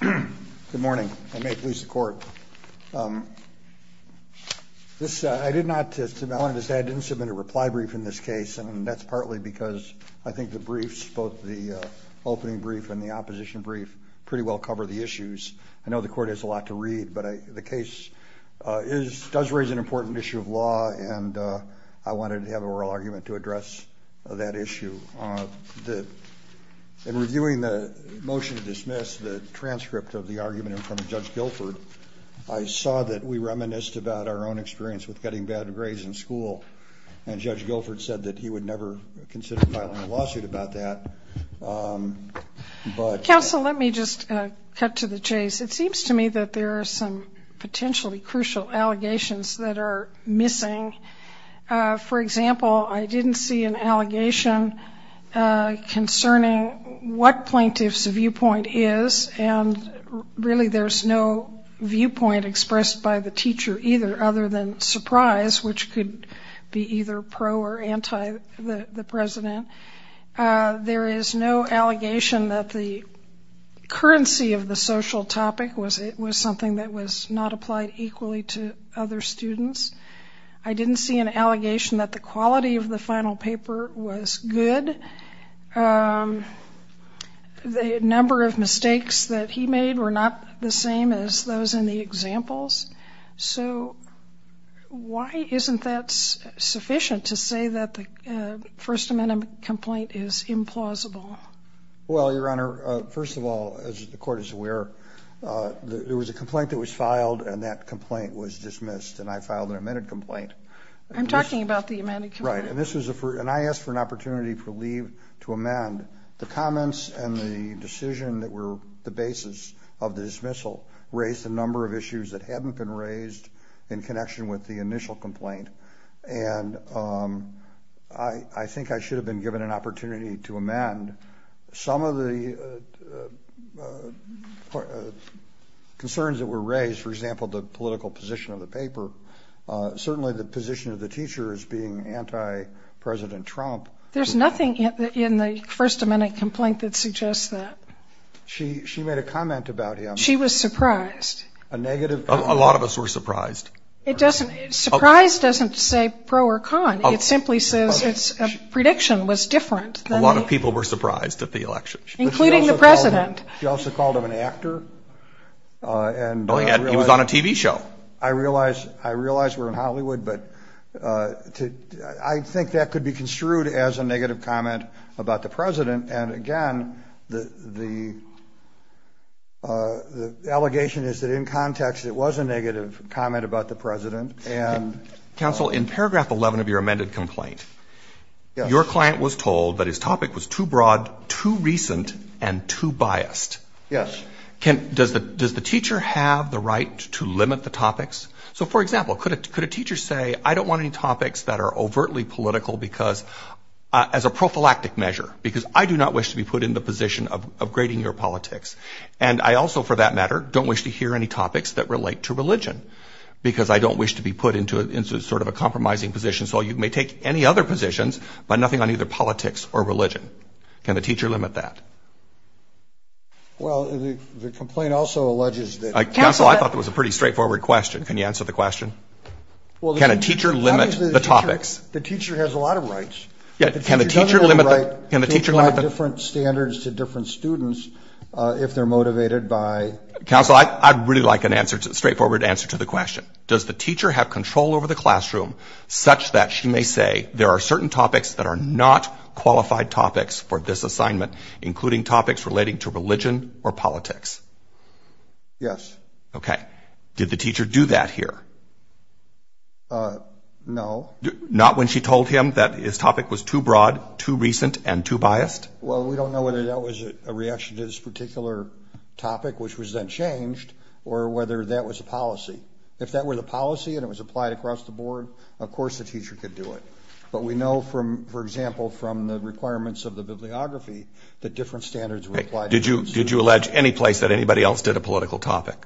Good morning. I did not submit a reply brief in this case, and that's partly because I think the briefs, both the opening brief and the opposition brief, pretty well cover the issues. I know the court has a lot to read, but the case does raise an important issue of law, and I wanted to have an oral argument to address that issue. In reviewing the motion to dismiss the transcript of the argument in front of Judge Guilford, I saw that we reminisced about our own experience with getting bad grades in school, and Judge Guilford said that he would never consider filing a lawsuit about that. Counsel, let me just cut to the chase. It seems to me that there are some potentially crucial allegations that are missing. For example, I didn't see an allegation concerning what plaintiff's viewpoint is, and really there's no viewpoint expressed by the teacher either, other than surprise, which could be either pro or anti the president. There is no allegation that the currency of the social topic was something that was not applied equally to other students. I didn't see an allegation that the quality of the final paper was good. The number of mistakes that he made were not the same as those in the examples, so why isn't that sufficient to say that the First Amendment complaint is implausible? Well, Your Honor, first of all, as the court is aware, there was a complaint that was filed, and that complaint was dismissed, and I filed an amended complaint. I'm talking about the amended complaint. Right, and I asked for an opportunity for leave to amend. The comments and the decision that were the basis of the dismissal raised a number of issues that haven't been raised in connection with the initial complaint, and I think I should have been given an opportunity to amend. Some of the concerns that were raised, for example, the political position of the paper, certainly the position of the teacher as being anti-President Trump. There's nothing in the First Amendment complaint that suggests that. She made a comment about him. She was surprised. A lot of us were surprised. Surprise doesn't say pro or con. It simply says a prediction was different. A lot of people were surprised at the election. Including the President. She also called him an actor. Oh, yeah, he was on a TV show. I realize we're in Hollywood, but I think that could be construed as a negative comment about the President, and again, the allegation is that in context it was a negative comment about the President. Counsel, in paragraph 11 of your amended complaint, your client was told that his topic was too broad, too recent, and too biased. Yes. Does the teacher have the right to limit the topics? So, for example, could a teacher say, I don't want any topics that are overtly political as a prophylactic measure, because I do not wish to be put in the position of grading your politics, and I also, for that matter, don't wish to hear any topics that relate to religion, because I don't wish to be put into sort of a compromising position, so you may take any other positions, but nothing on either politics or religion. Can the teacher limit that? Well, the complaint also alleges that... Counsel, I thought that was a pretty straightforward question. Can you answer the question? Can a teacher limit the topics? The teacher has a lot of rights. Yeah, can the teacher limit the... The teacher does have a right to apply different standards to different students if they're motivated by... Counsel, I'd really like a straightforward answer to the question. Does the teacher have control over the classroom such that she may say, there are certain topics that are not qualified topics for this assignment, including topics relating to religion or politics? Yes. Okay. Did the teacher do that here? No. Not when she told him that his topic was too broad, too recent, and too biased? Well, we don't know whether that was a reaction to this particular topic, which was then changed, or whether that was a policy. If that were the policy and it was applied across the board, of course the teacher could do it. But we know, for example, from the requirements of the bibliography, that different standards were applied... Did you allege any place that anybody else did a political topic?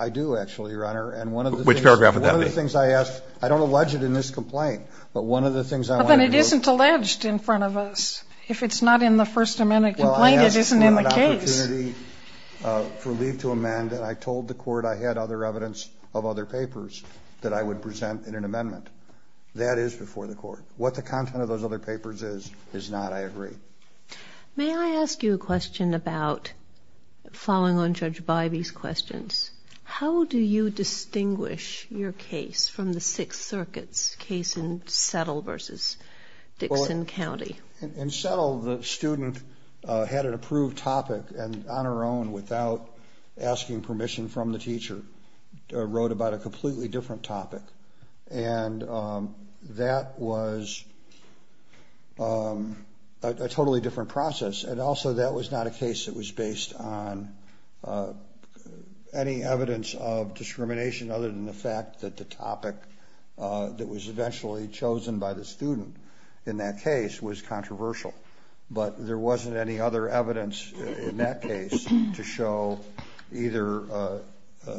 I do, actually, Your Honor, and one of the things... Which paragraph would that be? I don't allege it in this complaint, but one of the things I wanted to do... But then it isn't alleged in front of us. If it's not in the First Amendment complaint, it isn't in the case. Well, I asked for an opportunity for leave to amend, and I told the court I had other evidence of other papers that I would present in an amendment. That is before the court. What the content of those other papers is, is not, I agree. May I ask you a question about, following on Judge Bybee's questions, how do you distinguish your case from the Sixth Circuit's case in Settle versus Dixon County? In Settle, the student had an approved topic, and on her own, without asking permission from the teacher, wrote about a completely different topic. And that was a totally different process. And also, that was not a case that was based on any evidence of discrimination, other than the fact that the topic that was eventually chosen by the student in that case was controversial. But there wasn't any other evidence in that case to show either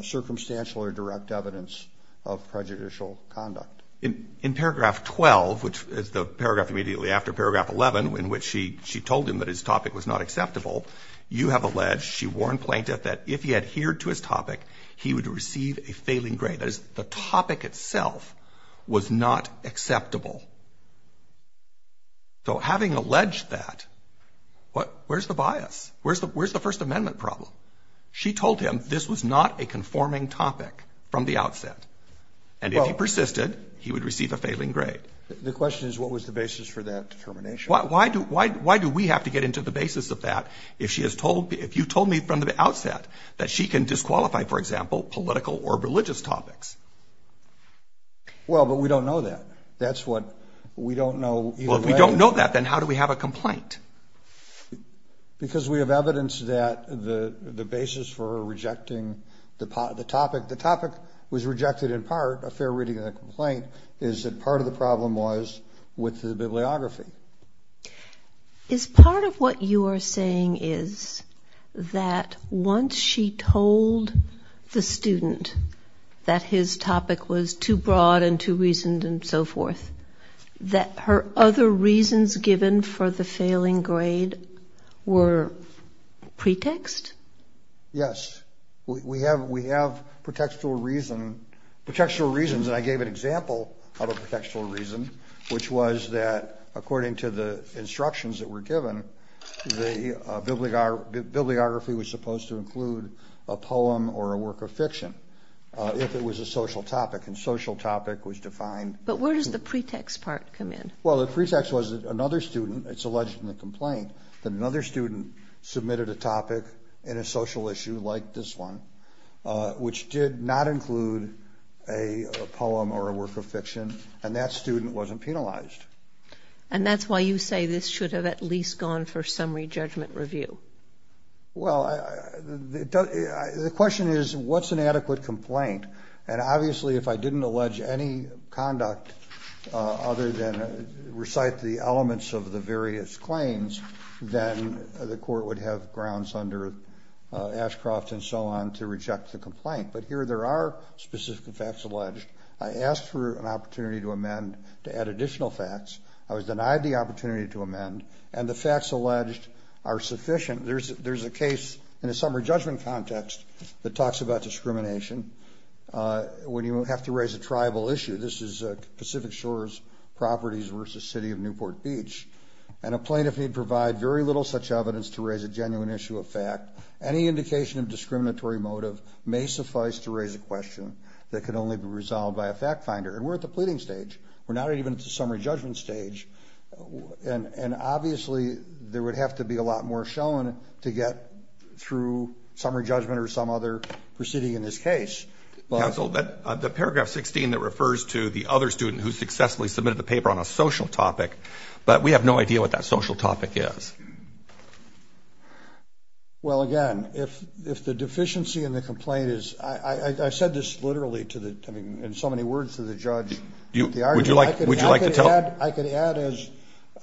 circumstantial or direct evidence of prejudicial conduct. In paragraph 12, which is the paragraph immediately after paragraph 11, in which she told him that his topic was not acceptable, you have alleged, she warned Plaintiff, that if he adhered to his topic, he would receive a failing grade. That is, the topic itself was not acceptable. So having alleged that, where's the bias? Where's the First Amendment problem? And if he persisted, he would receive a failing grade. The question is, what was the basis for that determination? Why do we have to get into the basis of that if she has told, if you told me from the outset that she can disqualify, for example, political or religious topics? Well, but we don't know that. That's what we don't know either way. Well, if we don't know that, then how do we have a complaint? Because we have evidence that the basis for rejecting the topic, the topic was rejected in part, a fair reading of the complaint, is that part of the problem was with the bibliography. Is part of what you are saying is that once she told the student that his topic was too broad and too reasoned and so forth, that her other reasons given for the failing grade were pretext? Yes. We have pretextual reasons, and I gave an example of a pretextual reason, which was that according to the instructions that were given, the bibliography was supposed to include a poem or a work of fiction if it was a social topic, and social topic was defined. But where does the pretext part come in? Well, the pretext was that another student, it's alleged in the complaint, that another student submitted a topic in a social issue like this one, which did not include a poem or a work of fiction, and that student wasn't penalized. And that's why you say this should have at least gone for summary judgment review. Well, the question is, what's an adequate complaint? And obviously if I didn't allege any conduct other than recite the elements of the various claims, then the court would have grounds under Ashcroft and so on to reject the complaint. But here there are specific facts alleged. I asked for an opportunity to amend to add additional facts. I was denied the opportunity to amend, and the facts alleged are sufficient. There's a case in a summary judgment context that talks about discrimination when you have to raise a tribal issue. This is Pacific Shores Properties versus City of Newport Beach. And a plaintiff need provide very little such evidence to raise a genuine issue of fact. Any indication of discriminatory motive may suffice to raise a question that can only be resolved by a fact finder. And we're at the pleading stage. We're not even at the summary judgment stage. And obviously there would have to be a lot more shown to get through summary judgment or some other proceeding in this case. Counsel, the paragraph 16 that refers to the other student who successfully submitted the paper on a social topic, but we have no idea what that social topic is. Well, again, if the deficiency in the complaint is, I said this literally in so many words to the judge, would you like to tell them? I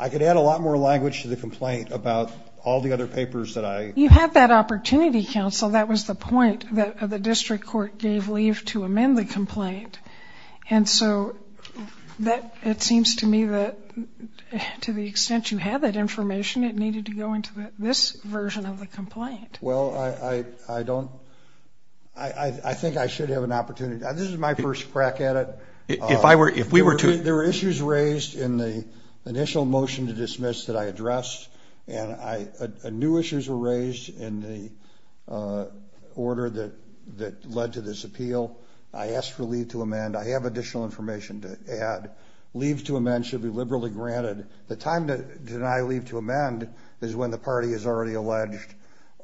could add a lot more language to the complaint about all the other papers that I... You had that opportunity, Counsel. That was the point that the district court gave leave to amend the complaint. And so it seems to me that to the extent you had that information, it needed to go into this version of the complaint. Well, I don't... I think I should have an opportunity. This is my first crack at it. There were issues raised in the initial motion to dismiss that I addressed, and new issues were raised in the order that led to this appeal. I asked for leave to amend. I have additional information to add. Leave to amend should be liberally granted. The time to deny leave to amend is when the party has already alleged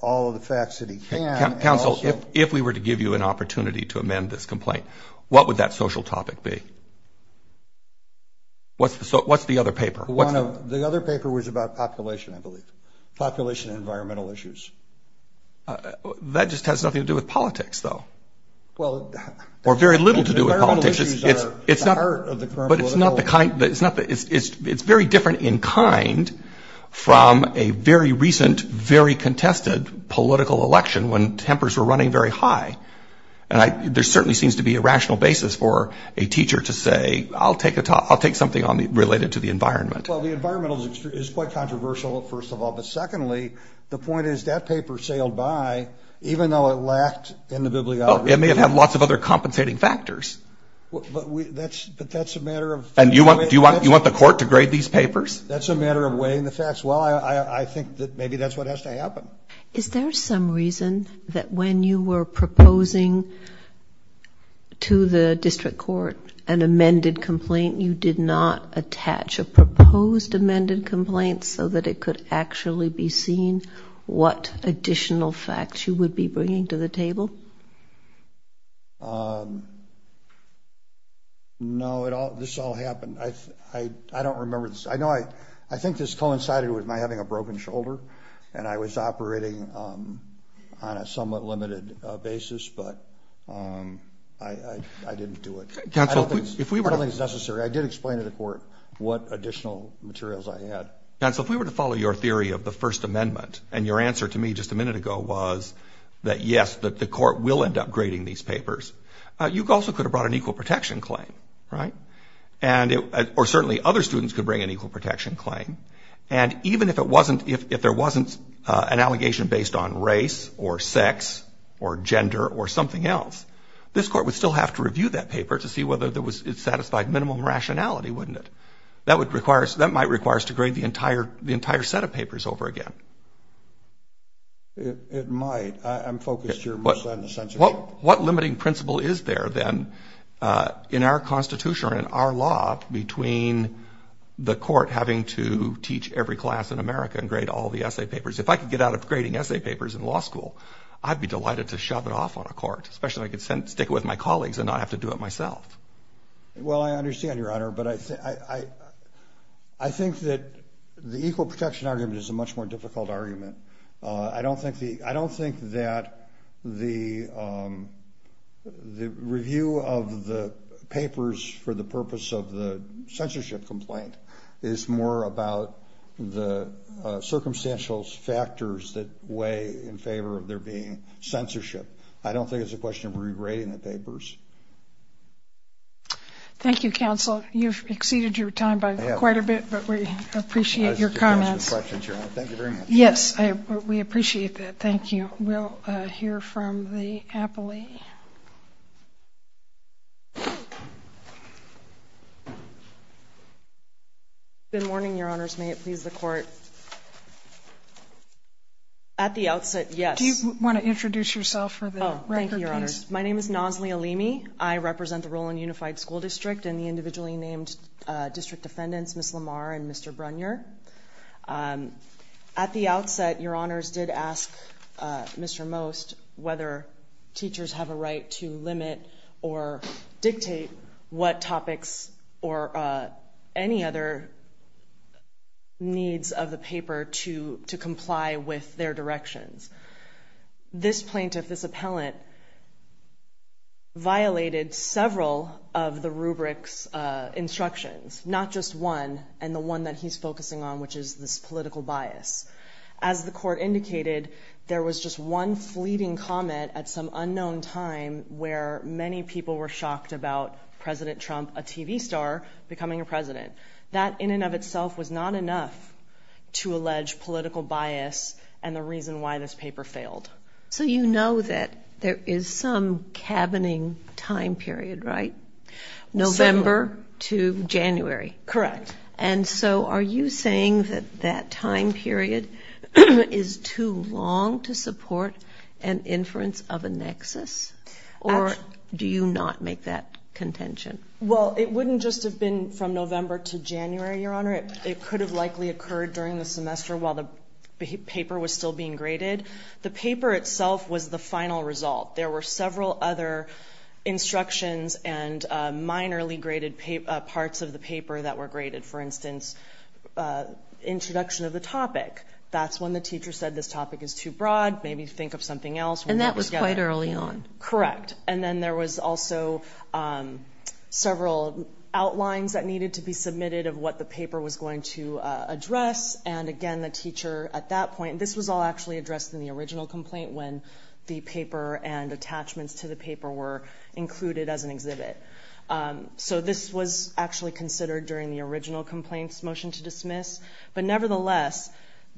all of the facts that he can... So what's the other paper? The other paper was about population, I believe. Population and environmental issues. That just has nothing to do with politics, though. Well... Or very little to do with politics. Environmental issues are the heart of the... But it's not the kind... It's very different in kind from a very recent, very contested political election when tempers were running very high. And there certainly seems to be a rational basis for a teacher to say, I'll take something related to the environment. Well, the environmental is quite controversial, first of all. But secondly, the point is that paper sailed by even though it lacked in the bibliography. Well, it may have had lots of other compensating factors. But that's a matter of... And do you want the court to grade these papers? That's a matter of weighing the facts. Well, I think that maybe that's what has to happen. Is there some reason that when you were proposing to the district court an amended complaint, you did not attach a proposed amended complaint so that it could actually be seen what additional facts you would be bringing to the table? No, this all happened. I don't remember... on a somewhat limited basis, but I didn't do it. I don't think it's necessary. I did explain to the court what additional materials I had. Counsel, if we were to follow your theory of the First Amendment, and your answer to me just a minute ago was that, yes, the court will end up grading these papers, you also could have brought an equal protection claim, right? Or certainly other students could bring an equal protection claim. And even if there wasn't an allegation based on race or sex or gender or something else, this court would still have to review that paper to see whether it satisfied minimum rationality, wouldn't it? That might require us to grade the entire set of papers over again. It might. I'm focused here mostly on the sense of... What limiting principle is there then in our Constitution or in our law between the court having to teach every class in America and grade all the essay papers? If I could get out of grading essay papers in law school, I'd be delighted to shove it off on a court, especially if I could stick it with my colleagues and not have to do it myself. Well, I understand, Your Honor, but I think that the equal protection argument is a much more difficult argument. I don't think that the review of the papers for the purpose of the censorship complaint is more about the circumstantial factors that weigh in favor of there being censorship. I don't think it's a question of re-grading the papers. Thank you, counsel. You've exceeded your time by quite a bit, but we appreciate your comments. Thank you very much. Yes, we appreciate that. Thank you. We'll hear from the appellee. Good morning, Your Honors. May it please the Court. At the outset, yes. Do you want to introduce yourself for the record, please? Thank you, Your Honors. My name is Nazli Alimi. I represent the Rowland Unified School District and the individually named district defendants, Ms. Lamar and Mr. Brunier. At the outset, Your Honors did ask Mr. Most whether teachers have a right to limit or dictate what topics or any other needs of the paper to comply with their directions. This plaintiff, this appellant, violated several of the rubric's instructions, not just one and the one that he's focusing on, which is this political bias. As the Court indicated, there was just one fleeting comment at some unknown time where many people were shocked about President Trump, a TV star, becoming a president. That in and of itself was not enough to allege political bias and the reason why this paper failed. So you know that there is some cabining time period, right? November to January. Correct. And so are you saying that that time period is too long to support an inference of a nexus, or do you not make that contention? Well, it wouldn't just have been from November to January, Your Honor. It could have likely occurred during the semester while the paper was still being graded. The paper itself was the final result. There were several other instructions and minorly graded parts of the paper that were graded. For instance, introduction of the topic. That's when the teacher said this topic is too broad, maybe think of something else. And that was quite early on. Correct. And then there was also several outlines that needed to be submitted of what the paper was going to address. And again, the teacher at that point, this was all actually addressed in the original complaint when the paper and attachments to the paper were included as an exhibit. So this was actually considered during the original complaint's motion to dismiss. But nevertheless,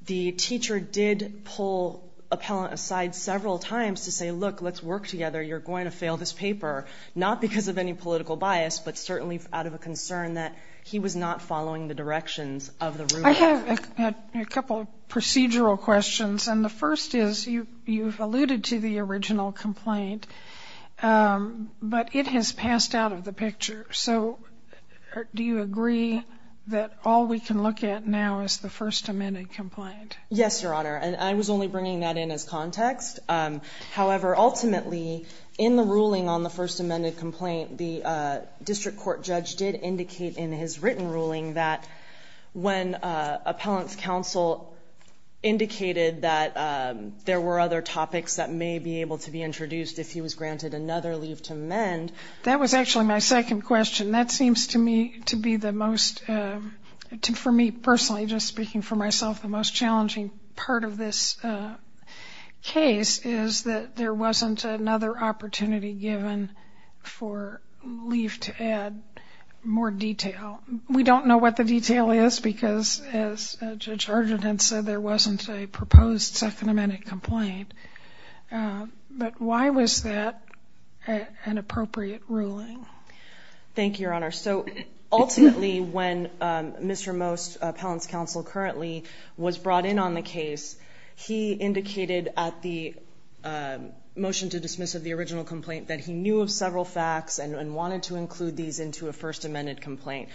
the teacher did pull appellant aside several times to say, look, let's work together, you're going to fail this paper, not because of any political bias, but certainly out of a concern that he was not following the directions of the rubric. I have a couple of procedural questions. And the first is you've alluded to the original complaint, but it has passed out of the picture. So do you agree that all we can look at now is the First Amendment complaint? Yes, Your Honor. And I was only bringing that in as context. However, ultimately, in the ruling on the First Amendment complaint, the district court judge did indicate in his written ruling that when appellant's counsel indicated that there were other topics that may be able to be introduced if he was granted another leave to amend. That was actually my second question. That seems to me to be the most, for me personally, just speaking for myself, the most challenging part of this case is that there wasn't another opportunity given for leave to add more detail. We don't know what the detail is because, as Judge Harjot had said, there wasn't a proposed Second Amendment complaint. But why was that an appropriate ruling? Thank you, Your Honor. So ultimately, when Mr. Most, appellant's counsel currently, was brought in on the case, he indicated at the motion to dismiss of the original complaint that he knew of several facts and wanted to include these into a First Amendment complaint.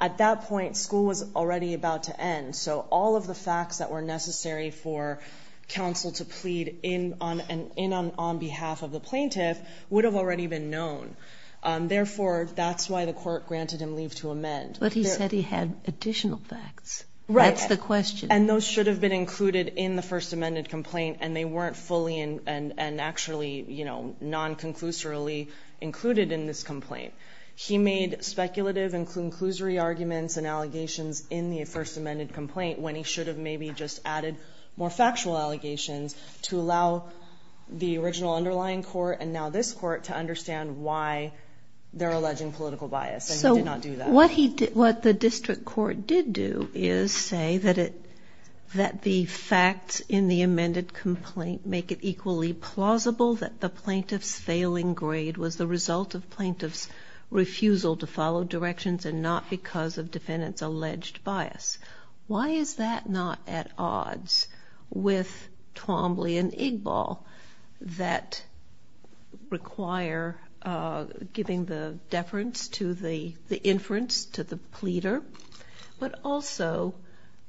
At that point, school was already about to end. So all of the facts that were necessary for counsel to plead in on behalf of the plaintiff would have already been known. Therefore, that's why the court granted him leave to amend. But he said he had additional facts. Right. That's the question. And those should have been included in the First Amendment complaint, and they weren't fully and actually, you know, non-conclusorily included in this complaint. He made speculative and conclusory arguments and allegations in the First Amendment complaint when he should have maybe just added more factual allegations to allow the their alleging political bias, and he did not do that. So what the district court did do is say that the facts in the amended complaint make it equally plausible that the plaintiff's failing grade was the result of plaintiff's refusal to follow directions and not because of defendant's alleged bias. Why is that not at odds with Twombly and Igbal that require giving the deference to the inference to the pleader, but also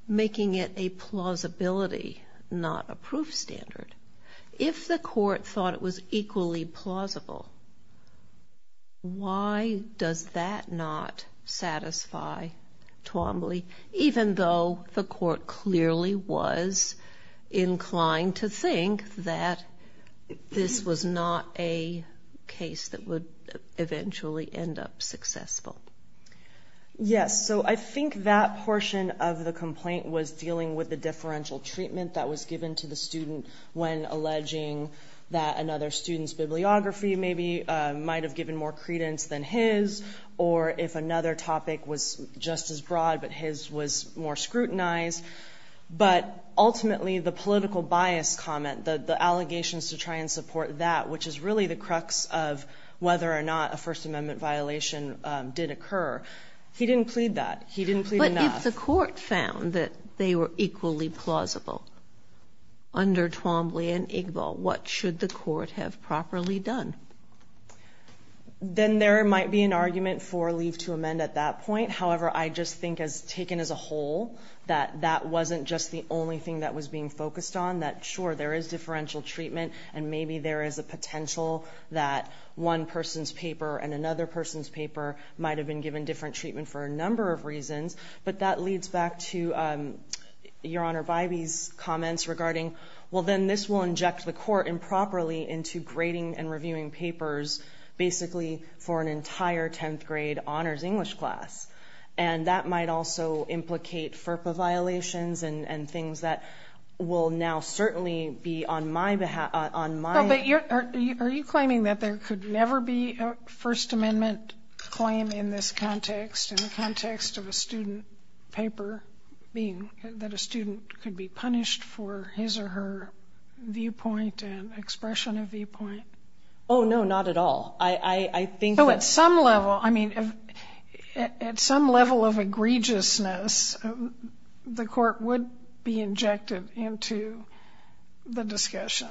making it a plausibility, not a proof standard? If the court thought it was equally plausible, why does that not satisfy Twombly, even though the court clearly was inclined to think that this was not a case that would eventually end up successful? Yes. So I think that portion of the complaint was dealing with the differential treatment that was given to the student when alleging that another student's bibliography maybe might have given more credence than his, or if another topic was just as broad, but his was more scrutinized. But ultimately, the political bias comment, the allegations to try and support that, which is really the crux of whether or not a First Amendment violation did occur, he didn't plead that. He didn't plead enough. But if the court found that they were equally plausible under Twombly and Igbal, what should the court have properly done? Then there might be an argument for leave to amend at that point. However, I just think, taken as a whole, that that wasn't just the only thing that was being focused on, that, sure, there is differential treatment, and maybe there is a potential that one person's paper and another person's paper might have been given different treatment for a number of reasons. But that leads back to Your Honor Bybee's comments regarding, well, then this will inject the court improperly into grading and reviewing papers, basically for an entire 10th grade honors English class. And that might also implicate FERPA violations and things that will now certainly be on my behalf. Are you claiming that there could never be a First Amendment claim in this context, in the context of a student paper, that a student could be punished for his or her viewpoint and expression of viewpoint? Oh, no, not at all. So at some level, I mean, at some level of egregiousness, the court would be injected into the discussion.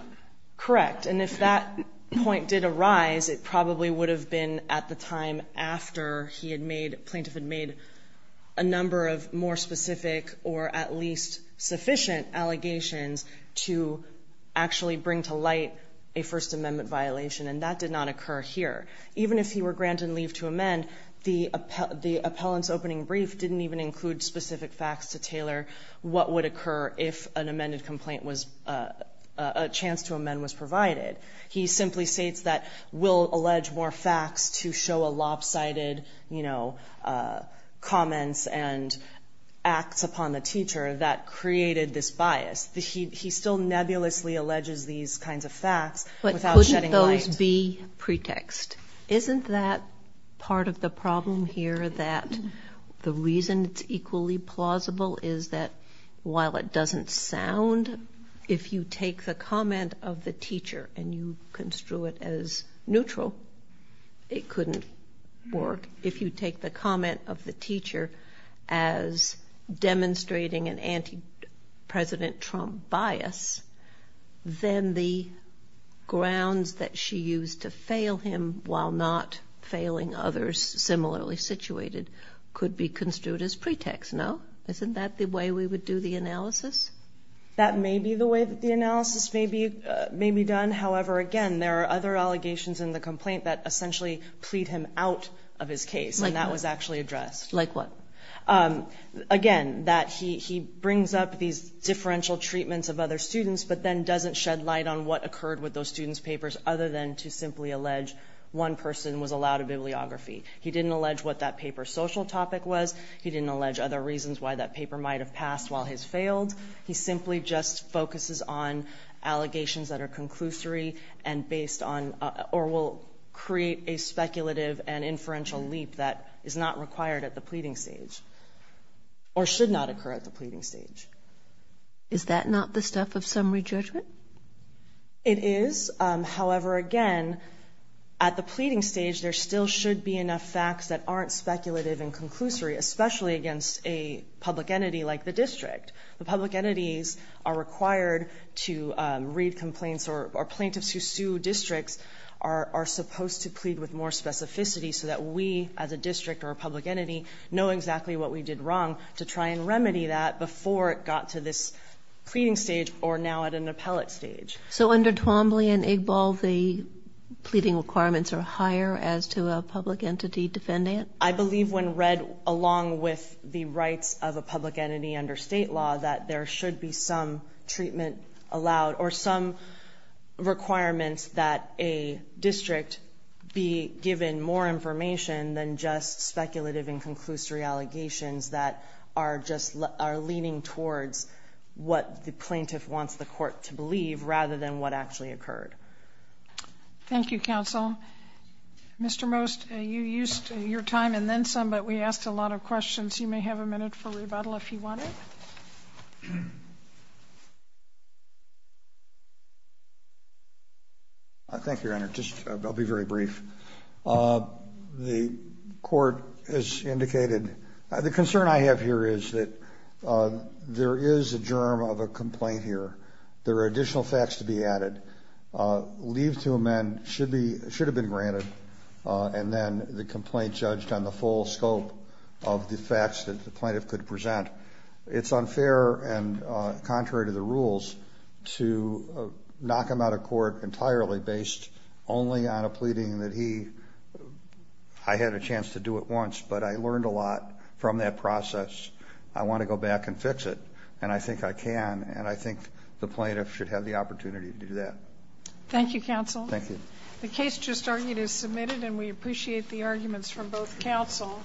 Correct. And if that point did arise, it probably would have been at the time after he had made, plaintiff had made a number of more specific or at least sufficient allegations to actually bring to light a First Amendment violation. And that did not occur here. Even if he were granted leave to amend, the appellant's opening brief didn't even include specific facts to tailor what would occur if an amended complaint was, a chance to amend was provided. He simply states that we'll allege more facts to show a lopsided, you know, comments and acts upon the teacher that created this bias. He still nebulously alleges these kinds of facts without shedding light. The pretext. Isn't that part of the problem here, that the reason it's equally plausible is that while it doesn't sound, if you take the comment of the teacher and you construe it as neutral, it couldn't work. If you take the comment of the teacher as demonstrating an anti-President Trump bias, then the grounds that she used to fail him while not failing others similarly situated could be construed as pretext, no? Isn't that the way we would do the analysis? That may be the way that the analysis may be done. However, again, there are other allegations in the complaint that essentially plead him out of his case. And that was actually addressed. Like what? Again, that he brings up these differential treatments of other students but then doesn't shed light on what occurred with those students' papers other than to simply allege one person was allowed a bibliography. He didn't allege what that paper's social topic was. He didn't allege other reasons why that paper might have passed while his failed. He simply just focuses on allegations that are conclusory and based on or will create a speculative and inferential leap that is not required at the pleading stage or should not occur at the pleading stage. Is that not the stuff of summary judgment? It is. However, again, at the pleading stage, there still should be enough facts that aren't speculative and conclusory, especially against a public entity like the district. The public entities are required to read complaints or plaintiffs who sue districts are supposed to plead with more specificity so that we as a district or a public entity know exactly what we did wrong to try and remedy that before it got to this pleading stage or now at an appellate stage. So under Twombly and Igbal, the pleading requirements are higher as to a public entity defendant? I believe when read along with the rights of a public entity under state law that there should be some treatment allowed or some requirements that a district be given more information than just speculative and conclusory allegations that are just leaning towards what the plaintiff wants the court to believe rather than what actually occurred. Thank you, counsel. Mr. Most, you used your time and then some, but we asked a lot of questions. You may have a minute for rebuttal if you wanted. Thank you, Your Honor. I'll be very brief. The court has indicated the concern I have here is that there is a germ of a complaint here. There are additional facts to be added. Leave to amend should have been granted and then the complaint judged on the full scope of the facts that the plaintiff could present. It's unfair and contrary to the rules to knock him out of court entirely based only on a pleading that I had a chance to do at once, but I learned a lot from that process. I want to go back and fix it, and I think I can, and I think the plaintiff should have the opportunity to do that. Thank you, counsel. Thank you. The case just argued is submitted, and we appreciate the arguments from both counsel.